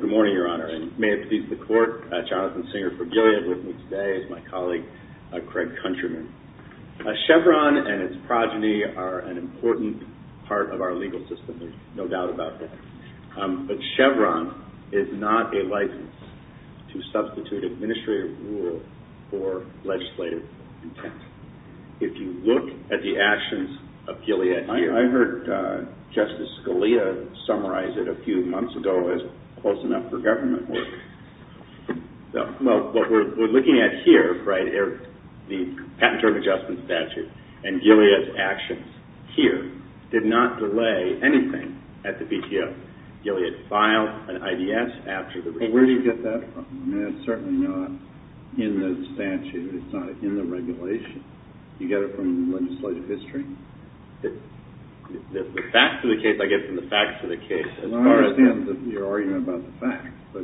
Good morning, Your Honor, and may it please the Court, Jonathan Singer for Gilead with me today is my colleague Craig Countryman. Chevron and its progeny are an important part of our legal system, there's no doubt about that. But Chevron is not a license to substitute administrative rule for legislative intent. If you look at the actions of Gilead here I heard Justice Scalia summarize it a few months ago as close enough for government work. Well, what we're looking at here, the Patent Term Adjustment Statute, and Gilead's actions here did not delay anything at the PTO. Gilead filed an IDS after the revision. Well, where do you get that from? I mean, it's certainly not in the statute, it's not in the regulation. You get it from legislative history? The facts of the case, I get from the facts of the case as far as the... Well, I understand your argument about the facts, but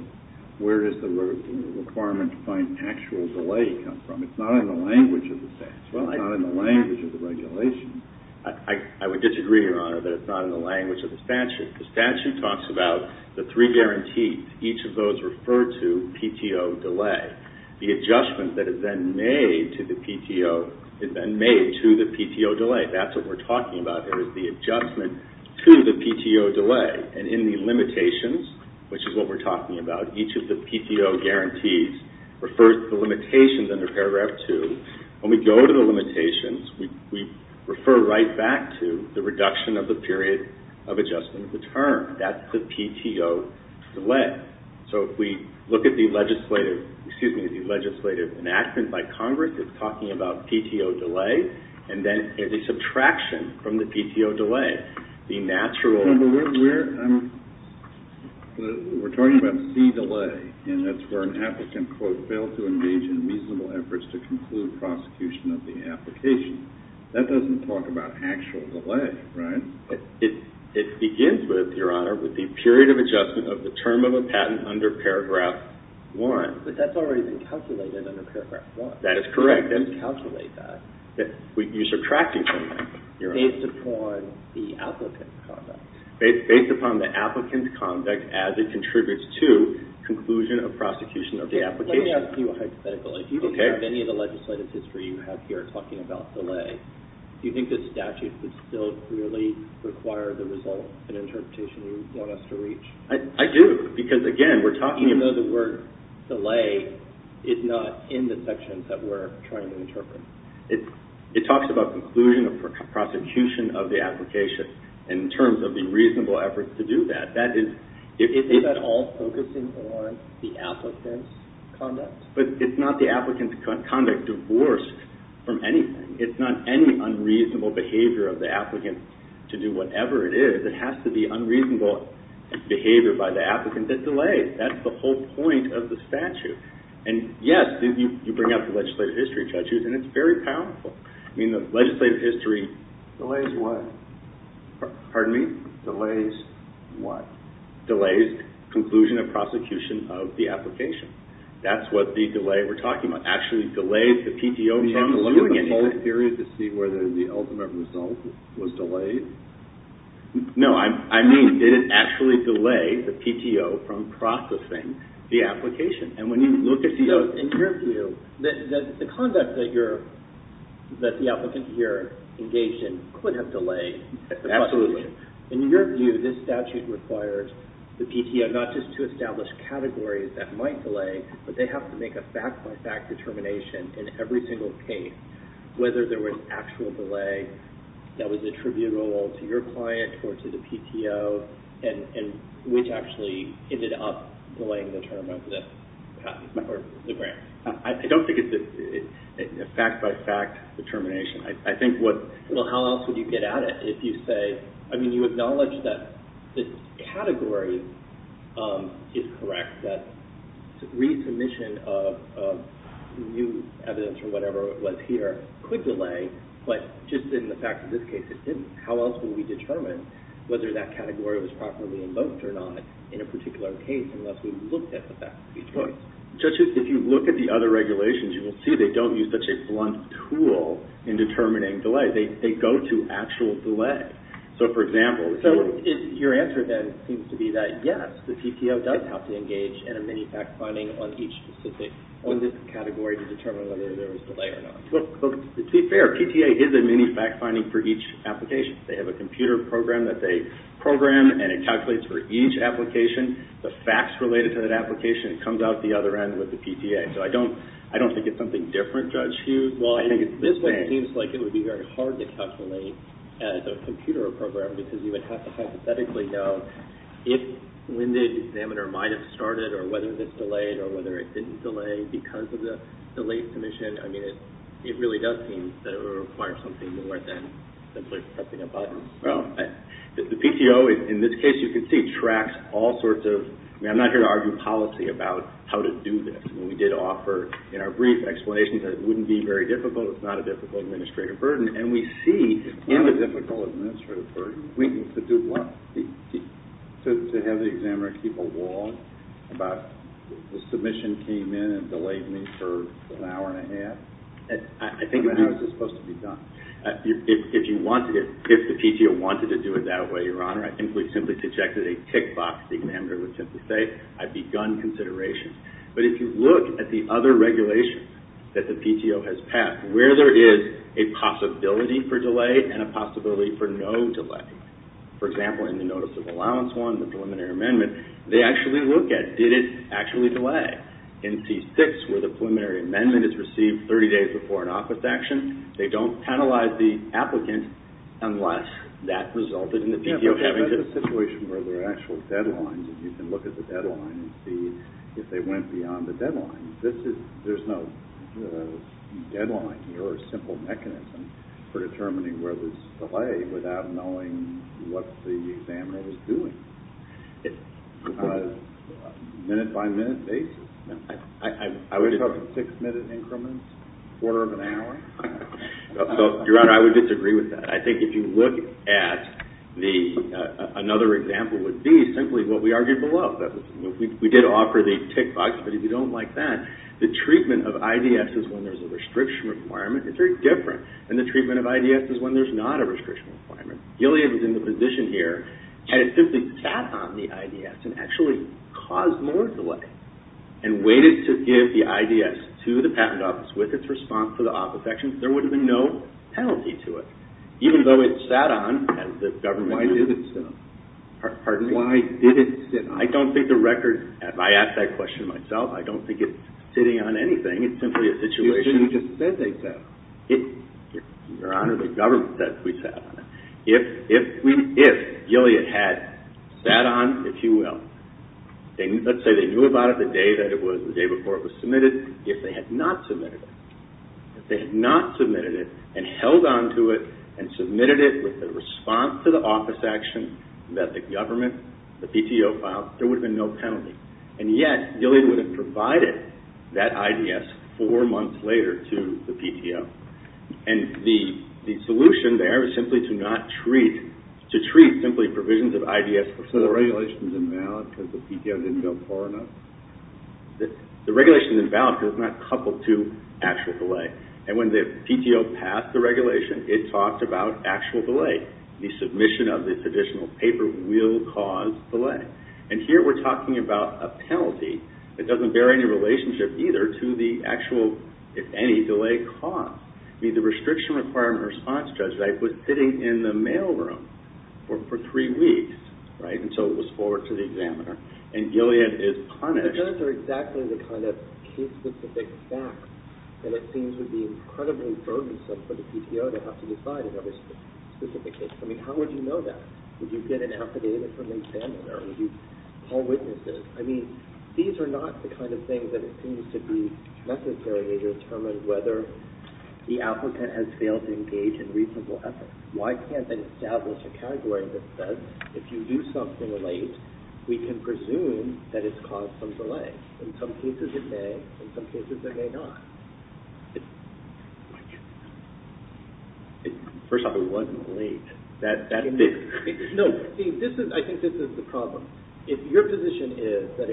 where does the requirement to find actual delay come from? It's not in the language of the statute, it's not in the language of the regulations. I would disagree, Your Honor, that it's not in the language of the statute. The statute talks about the three guarantees, each of those refer to PTO delay. The adjustment that is then made to the PTO is then made to the PTO delay. That's what we're talking about here, is the adjustment to the PTO delay. And in the limitations, which is what we're talking about, each of the PTO guarantees refers to the limitations under Paragraph 2. When we go to the limitations, we refer right back to the reduction of the period of adjustment of the term. That's the PTO delay. So if we look at the legislative enactment by Congress, it's talking about PTO delay, and then the subtraction from the PTO delay, the natural... We're talking about C delay, and that's where an applicant, quote, failed to engage in reasonable efforts to conclude prosecution of the application. That doesn't talk about actual delay, right? It begins with, Your Honor, with the period of adjustment of the term of a patent under Paragraph 1. But that's already been calculated under Paragraph 1. That is correct. You didn't calculate that. You subtracted from that, Your Honor. Based upon the applicant's conduct. Based upon the applicant's conduct as it contributes to conclusion of prosecution of the application. Let me ask you a hypothetical. Okay. If you think of any of the legislative history you have here talking about delay, do you think the statute would still clearly require the result, an interpretation you want us to reach? I do, because again, we're talking about... Even though the word delay is not in the sections that we're trying to interpret. It talks about conclusion of prosecution of the application in terms of the reasonable efforts to do that. That is... Is that all focusing on the applicant's conduct? But it's not the applicant's conduct divorced from anything. It's not any unreasonable behavior of the applicant to do whatever it is. It has to be unreasonable behavior by the applicant that delays. That's the whole point of the statute. And yes, you bring up the legislative history, Judge Hughes, and it's very powerful. I mean, the legislative history... Delays what? Pardon me? Delays what? Delays conclusion of prosecution of the application. That's what the delay we're talking about. Actually delays the PTO from doing anything. Do you have to look at the whole theory to see whether the ultimate result was delayed? No, I mean, did it actually delay the PTO from processing the application? And when you look at the... So, in your view, the conduct that the applicant here engaged in could have delayed the prosecution. Absolutely. In your view, this statute requires the PTO not just to establish categories that might delay, but they have to make a fact-by-fact determination in every single case whether there was actual delay that was attributable to your client or to the PTO, and which actually ended up delaying the term of this patent or the grant. I don't think it's a fact-by-fact determination. I think what... Well, how else would you get at it if you say... I mean, you acknowledge that this category is correct, that resubmission of new evidence or whatever it was here could delay, but just in the fact of this case, it didn't. How else would we determine whether that category was properly invoked or not in a particular case unless we looked at the fact-by-fact? Judges, if you look at the other regulations, you will see they don't use such a blunt tool in determining delay. They go to actual delay. So, for example... So, your answer then seems to be that, yes, the PTO does have to engage in a mini-fact-finding on each specific... on this category to determine whether there was delay or not. Well, to be fair, PTA is a mini-fact-finding for each application. They have a computer program that they program, and it calculates for each application. The facts related to that application comes out the other end with the PTA. So, I don't think it's something different, Judge Hughes. I think it's the same. This seems like it would be very hard to calculate as a computer program, because you would have to hypothetically know if... when the examiner might have started or whether this delayed or whether it didn't delay because of the late submission. I mean, it really does seem that it would require something more than simply pressing a button. Well, the PTO, in this case, you can see, tracks all sorts of... I mean, I'm not here to argue policy about how to do this. I mean, we did offer, in our brief, explanations that it wouldn't be very difficult. It's not a difficult administrative burden. And we see in the difficult administrative burden, we need to do what? To have the examiner keep a wall about the submission came in and delayed me for an hour and a half? I think... How is this supposed to be done? If you want... if the PTO wanted to do it that way, Your Honor, I think we simply projected a tick box. The examiner would simply say, I've begun consideration. But if you look at the other regulations that the PTO has passed, where there is a possibility for delay and a possibility for no delay, for example, in the Notice of Allowance one, the preliminary amendment, they actually look at, did it actually delay? In C6, where the preliminary amendment is received 30 days before an office action, they don't penalize the applicant unless that resulted in the PTO having to... Yeah, but that's a situation where there are actual deadlines and you can look at the deadline. This is... There's no deadline here or simple mechanism for determining where there's delay without knowing what the examiner was doing on a minute-by-minute basis. I would... We're talking six-minute increments, quarter of an hour? Your Honor, I would disagree with that. I think if you look at the... Another example would be simply what we argued below. We did offer the tick box, but if you don't like that, the treatment of IDS is when there's a restriction requirement. It's very different than the treatment of IDS is when there's not a restriction requirement. Gilead was in the position here and it simply sat on the IDS and actually caused more delay and waited to give the IDS to the patent office with its response to the office actions. There would have been no penalty to it, even though it sat on as the government... Why did it sit on it? Pardon me? Why did it sit on it? I don't think the record... I asked that question myself. I don't think it's sitting on anything. It's simply a situation... You just said they sat on it. Your Honor, the government said we sat on it. If Gilead had sat on, if you will, let's say they knew about it the day before it was submitted, if they had not submitted it, if they had not submitted it and held on to it and submitted it with the response to the office action that the government, the PTO, filed, there would have been no penalty. And yet, Gilead would have provided that IDS four months later to the PTO. And the solution there is simply to not treat... To treat simply provisions of IDS before... So the regulation's invalid because the PTO didn't go far enough? The regulation's invalid because it's not coupled to actual delay. And when the PTO passed the regulation, it talked about actual delay. The submission of this additional paper will cause delay. And here we're talking about a penalty that doesn't bear any relationship either to the actual, if any, delay caused. I mean, the restriction requirement response judge was sitting in the mail room for three weeks, right, until it was forwarded to the examiner. And Gilead is punished... It would be incredibly burdensome for the PTO to have to decide in every specific case. I mean, how would you know that? Would you get an affidavit from the examiner? Would you call witnesses? I mean, these are not the kind of things that it seems to be necessary to determine whether the applicant has failed to engage in reasonable effort. Why can't they establish a category that says, if you do something late, we can presume that it's caused some delay? In some cases, it may. In some cases, it may not. First off, it wasn't late. That's it. No. I think this is the problem. If your position is that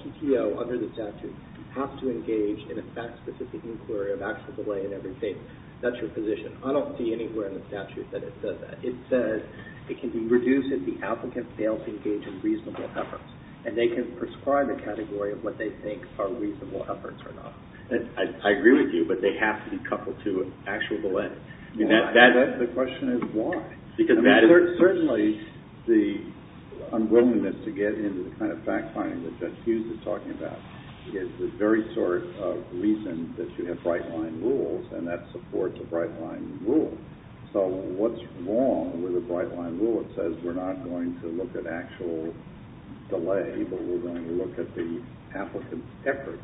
PTO, under the statute, has to engage in a fact-specific inquiry of actual delay in every case, that's your position. I don't see anywhere in the statute that it says that. It says it can be reduced if the applicant fails to engage in reasonable efforts. And they can prescribe a category of what they think are reasonable efforts or not. I agree with you, but they have to be coupled to actual delay. The question is why? Because that is... Certainly, the unwillingness to get into the kind of fact-finding that Judge Hughes is talking about is the very sort of reason that you have bright-line rules, and that supports a bright-line rule. So what's wrong with a bright-line rule that says we're not going to look at actual delay but we're going to look at the applicant's efforts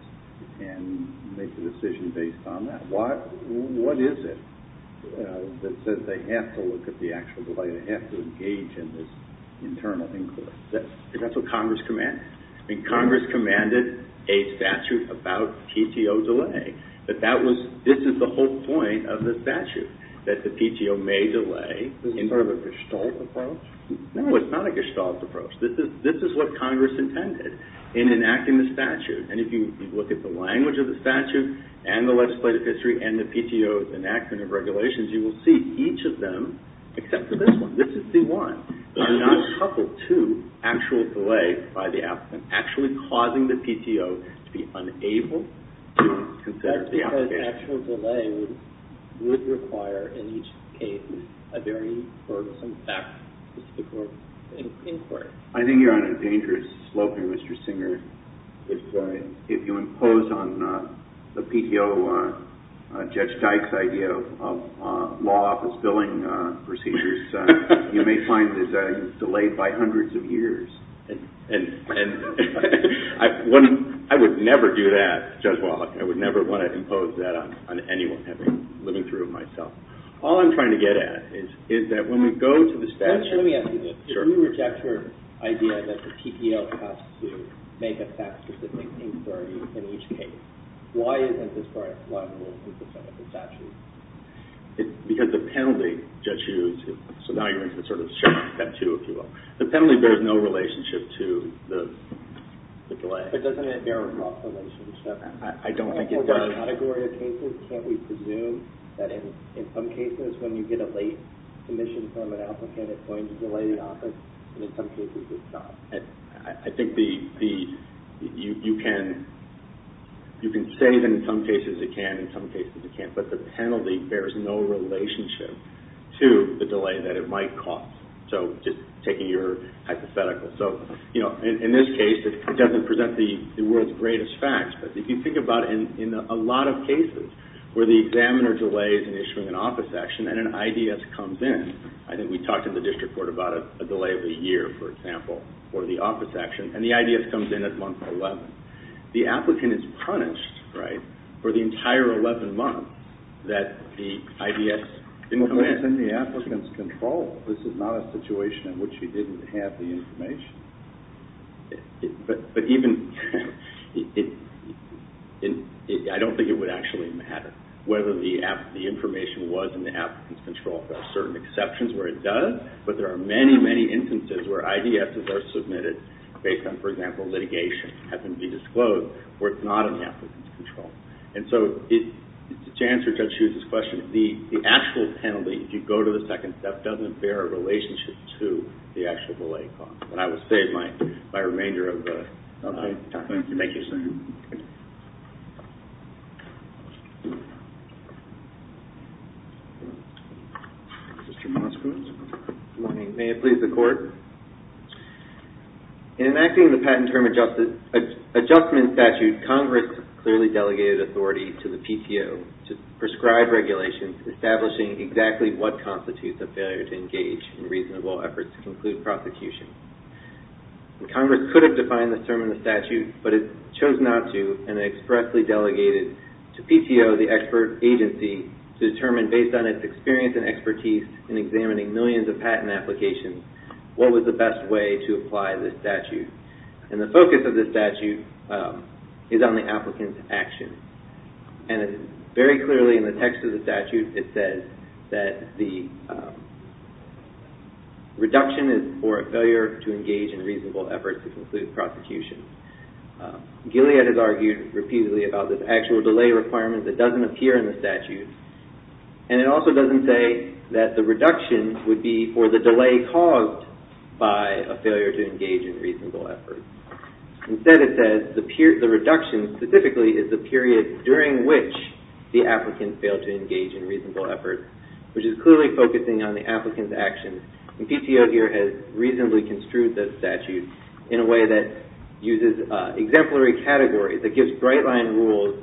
and make a decision based on that? What is it that says they have to look at the actual delay, they have to engage in this internal inquiry? Is that what Congress commanded? I mean, Congress commanded a statute about PTO delay. But that was... This is the whole point of the statute, that the PTO may delay... This is sort of a Gestalt approach? No, it's not a Gestalt approach. This is what Congress intended in enacting the statute. And if you look at the language of the statute and the legislative history and the PTO's enactment of regulations, you will see each of them, except for this one, this is C-1, are not coupled to actual delay by the applicant, actually causing the PTO to be unable to consider the application. An actual delay would require, in each case, a very burdensome fact-specific inquiry. I think you're on a dangerous slope here, Mr. Singer. If you impose on the PTO Judge Dyke's idea of law office billing procedures, you may find that it's delayed by hundreds of years. And I would never do that, Judge Wallach. I would never want to impose that on anyone living through it myself. All I'm trying to get at is that when we go to the statute... Let me ask you this. Sure. If you reject your idea that the PTO has to make a fact-specific inquiry in each case, why isn't this part of the statute? Because the penalty, Judge Hughes, so now you're into sort of step two, if you will. The penalty bears no relationship to the delay. But doesn't it bear a cost relationship? I don't think it does. Can't we presume that in some cases, when you get a late commission from an applicant, it's going to delay the office? And in some cases, it's not. I think you can say that in some cases it can, in some cases it can't. But the penalty bears no relationship to the delay that it might cost. So just taking your hypothetical. So in this case, it doesn't present the world's greatest facts. But if you think about it, in a lot of cases where the examiner delays in issuing an office action and an IDS comes in, I think we talked in the district court about a delay of a year, for example, for the office action, and the IDS comes in at month 11, the applicant is punished for the entire 11 months that the IDS didn't come in. But it's in the applicant's control. This is not a situation in which he didn't have the information. But even, I don't think it would actually matter whether the information was in the applicant's control. There are certain exceptions where it does. But there are many, many instances where IDSs are submitted based on, for example, litigation, happen to be disclosed, where it's not in the applicant's control. And so, to answer Judge Hughes' question, the actual penalty, if you go to the second step, doesn't bear a relationship to the actual delay cost. But I will save my remainder of the time. Thank you, sir. Mr. Moskowitz? Good morning. May it please the Court? In enacting the patent term adjustment statute, Congress clearly delegated authority to the PTO to prescribe regulations establishing exactly what constitutes a failure to engage in reasonable efforts to conclude prosecution. Congress could have defined this term in the statute, but it chose not to, and expressly delegated to PTO, the expert agency, to determine based on its experience and expertise in examining millions of patent applications, what was the best way to apply this statute. And the focus of this statute is on the applicant's action. And very clearly in the text of the statute, it says that the reduction is for a failure to engage in reasonable efforts to conclude prosecution. Gilead has argued repeatedly about this actual delay requirement that doesn't appear in the statute. And it also doesn't say that the reduction would be for the delay caused by a failure to engage in reasonable efforts. Instead, it says the reduction specifically is the period during which the applicant failed to engage in reasonable efforts, which is clearly focusing on the applicant's action. And PTO here has reasonably construed this statute in a way that uses exemplary categories, that gives bright line rules,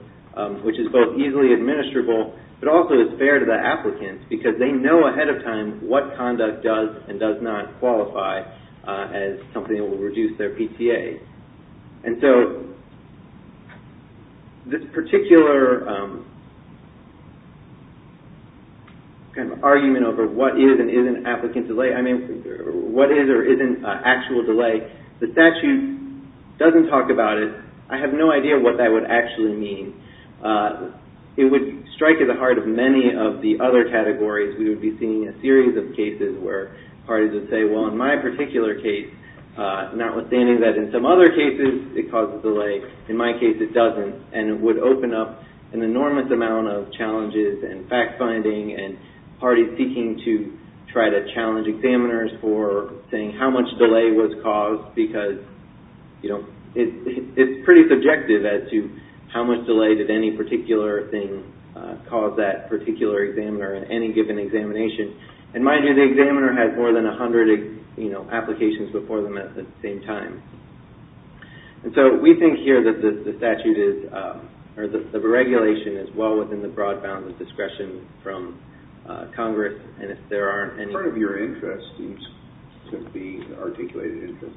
which is both easily administrable, but also is fair to the applicant because they know ahead of time what conduct does and does not qualify as something that will reduce their PTA. And so, this particular kind of argument over what is and isn't applicant delay, I mean, what is or isn't actual delay, the statute doesn't talk about it. And I have no idea what that would actually mean. It would strike at the heart of many of the other categories. We would be seeing a series of cases where parties would say, well, in my particular case, notwithstanding that in some other cases it causes delay, in my case it doesn't. And it would open up an enormous amount of challenges and fact-finding and parties seeking to try to challenge examiners for saying how much delay was caused because it's pretty subjective as to how much delay did any particular thing cause that particular examiner in any given examination. And mind you, the examiner has more than 100 applications before them at the same time. And so, we think here that the regulation is well within the broad bounds of discretion from Congress. Part of your interest seems to be, articulated interest,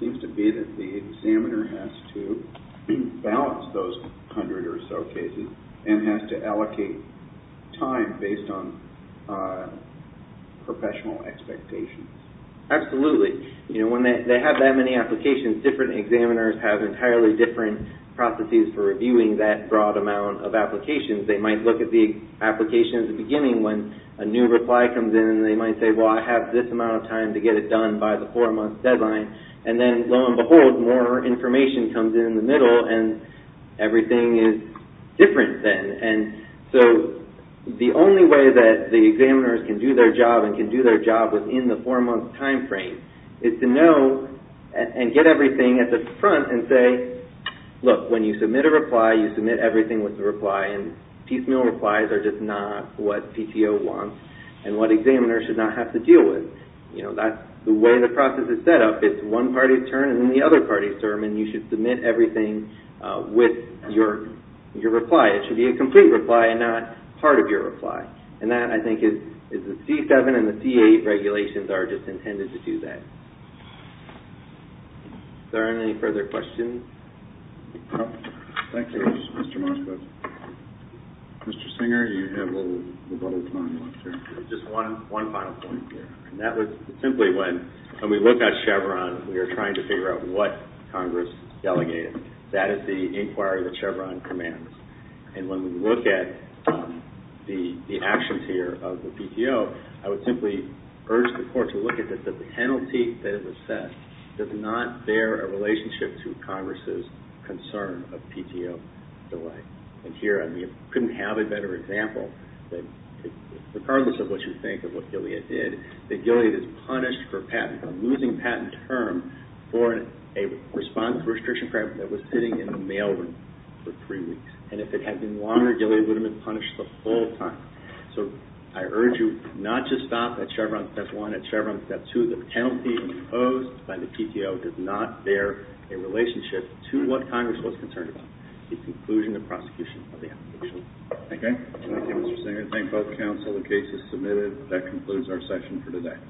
seems to be that the examiner has to balance those 100 or so cases and has to allocate time based on professional expectations. Absolutely. You know, when they have that many applications, different examiners have entirely different processes for reviewing that broad amount of applications. They might look at the application at the beginning when a new reply comes in and they might say, well, I have this amount of time to get it done by the four-month deadline. And then, lo and behold, more information comes in in the middle and everything is different then. And so, the only way that the examiners can do their job and can do their job within the four-month time frame is to know and get everything at the front and say, look, when you submit a reply, you submit everything with the reply and piecemeal replies are just not what PTO wants and what examiners should not have to deal with. You know, that's the way the process is set up. It's one party's turn and then the other party's turn and you should submit everything with your reply. It should be a complete reply and not part of your reply. And that, I think, is the C-7 and the C-8 regulations are just intended to do that. Is there any further questions? Thank you, Mr. Moskowitz. Mr. Singer, you have a little time left here. Just one final point here. That was simply when, when we look at Chevron, we are trying to figure out what Congress delegated. That is the inquiry that Chevron commands. And when we look at the actions here of the PTO, I would simply urge the Court to look at that the penalty that is assessed does not bear a relationship to Congress's concern of PTO delay. And here, I mean, couldn't have a better example. Regardless of what you think of what Gilead did, that Gilead is punished for patent, for losing patent term for a response to restriction crime that was sitting in the mail room for three weeks. And if it had been longer, Gilead would have been punished the full time. So I urge you not to stop at Chevron Step 1. At Chevron Step 2, the penalty imposed by the PTO does not bear a relationship to what Congress was concerned about, the conclusion of prosecution of the application. Thank you. Thank you, Mr. Singer. Thank both counsel. The case is submitted. That concludes our session for today.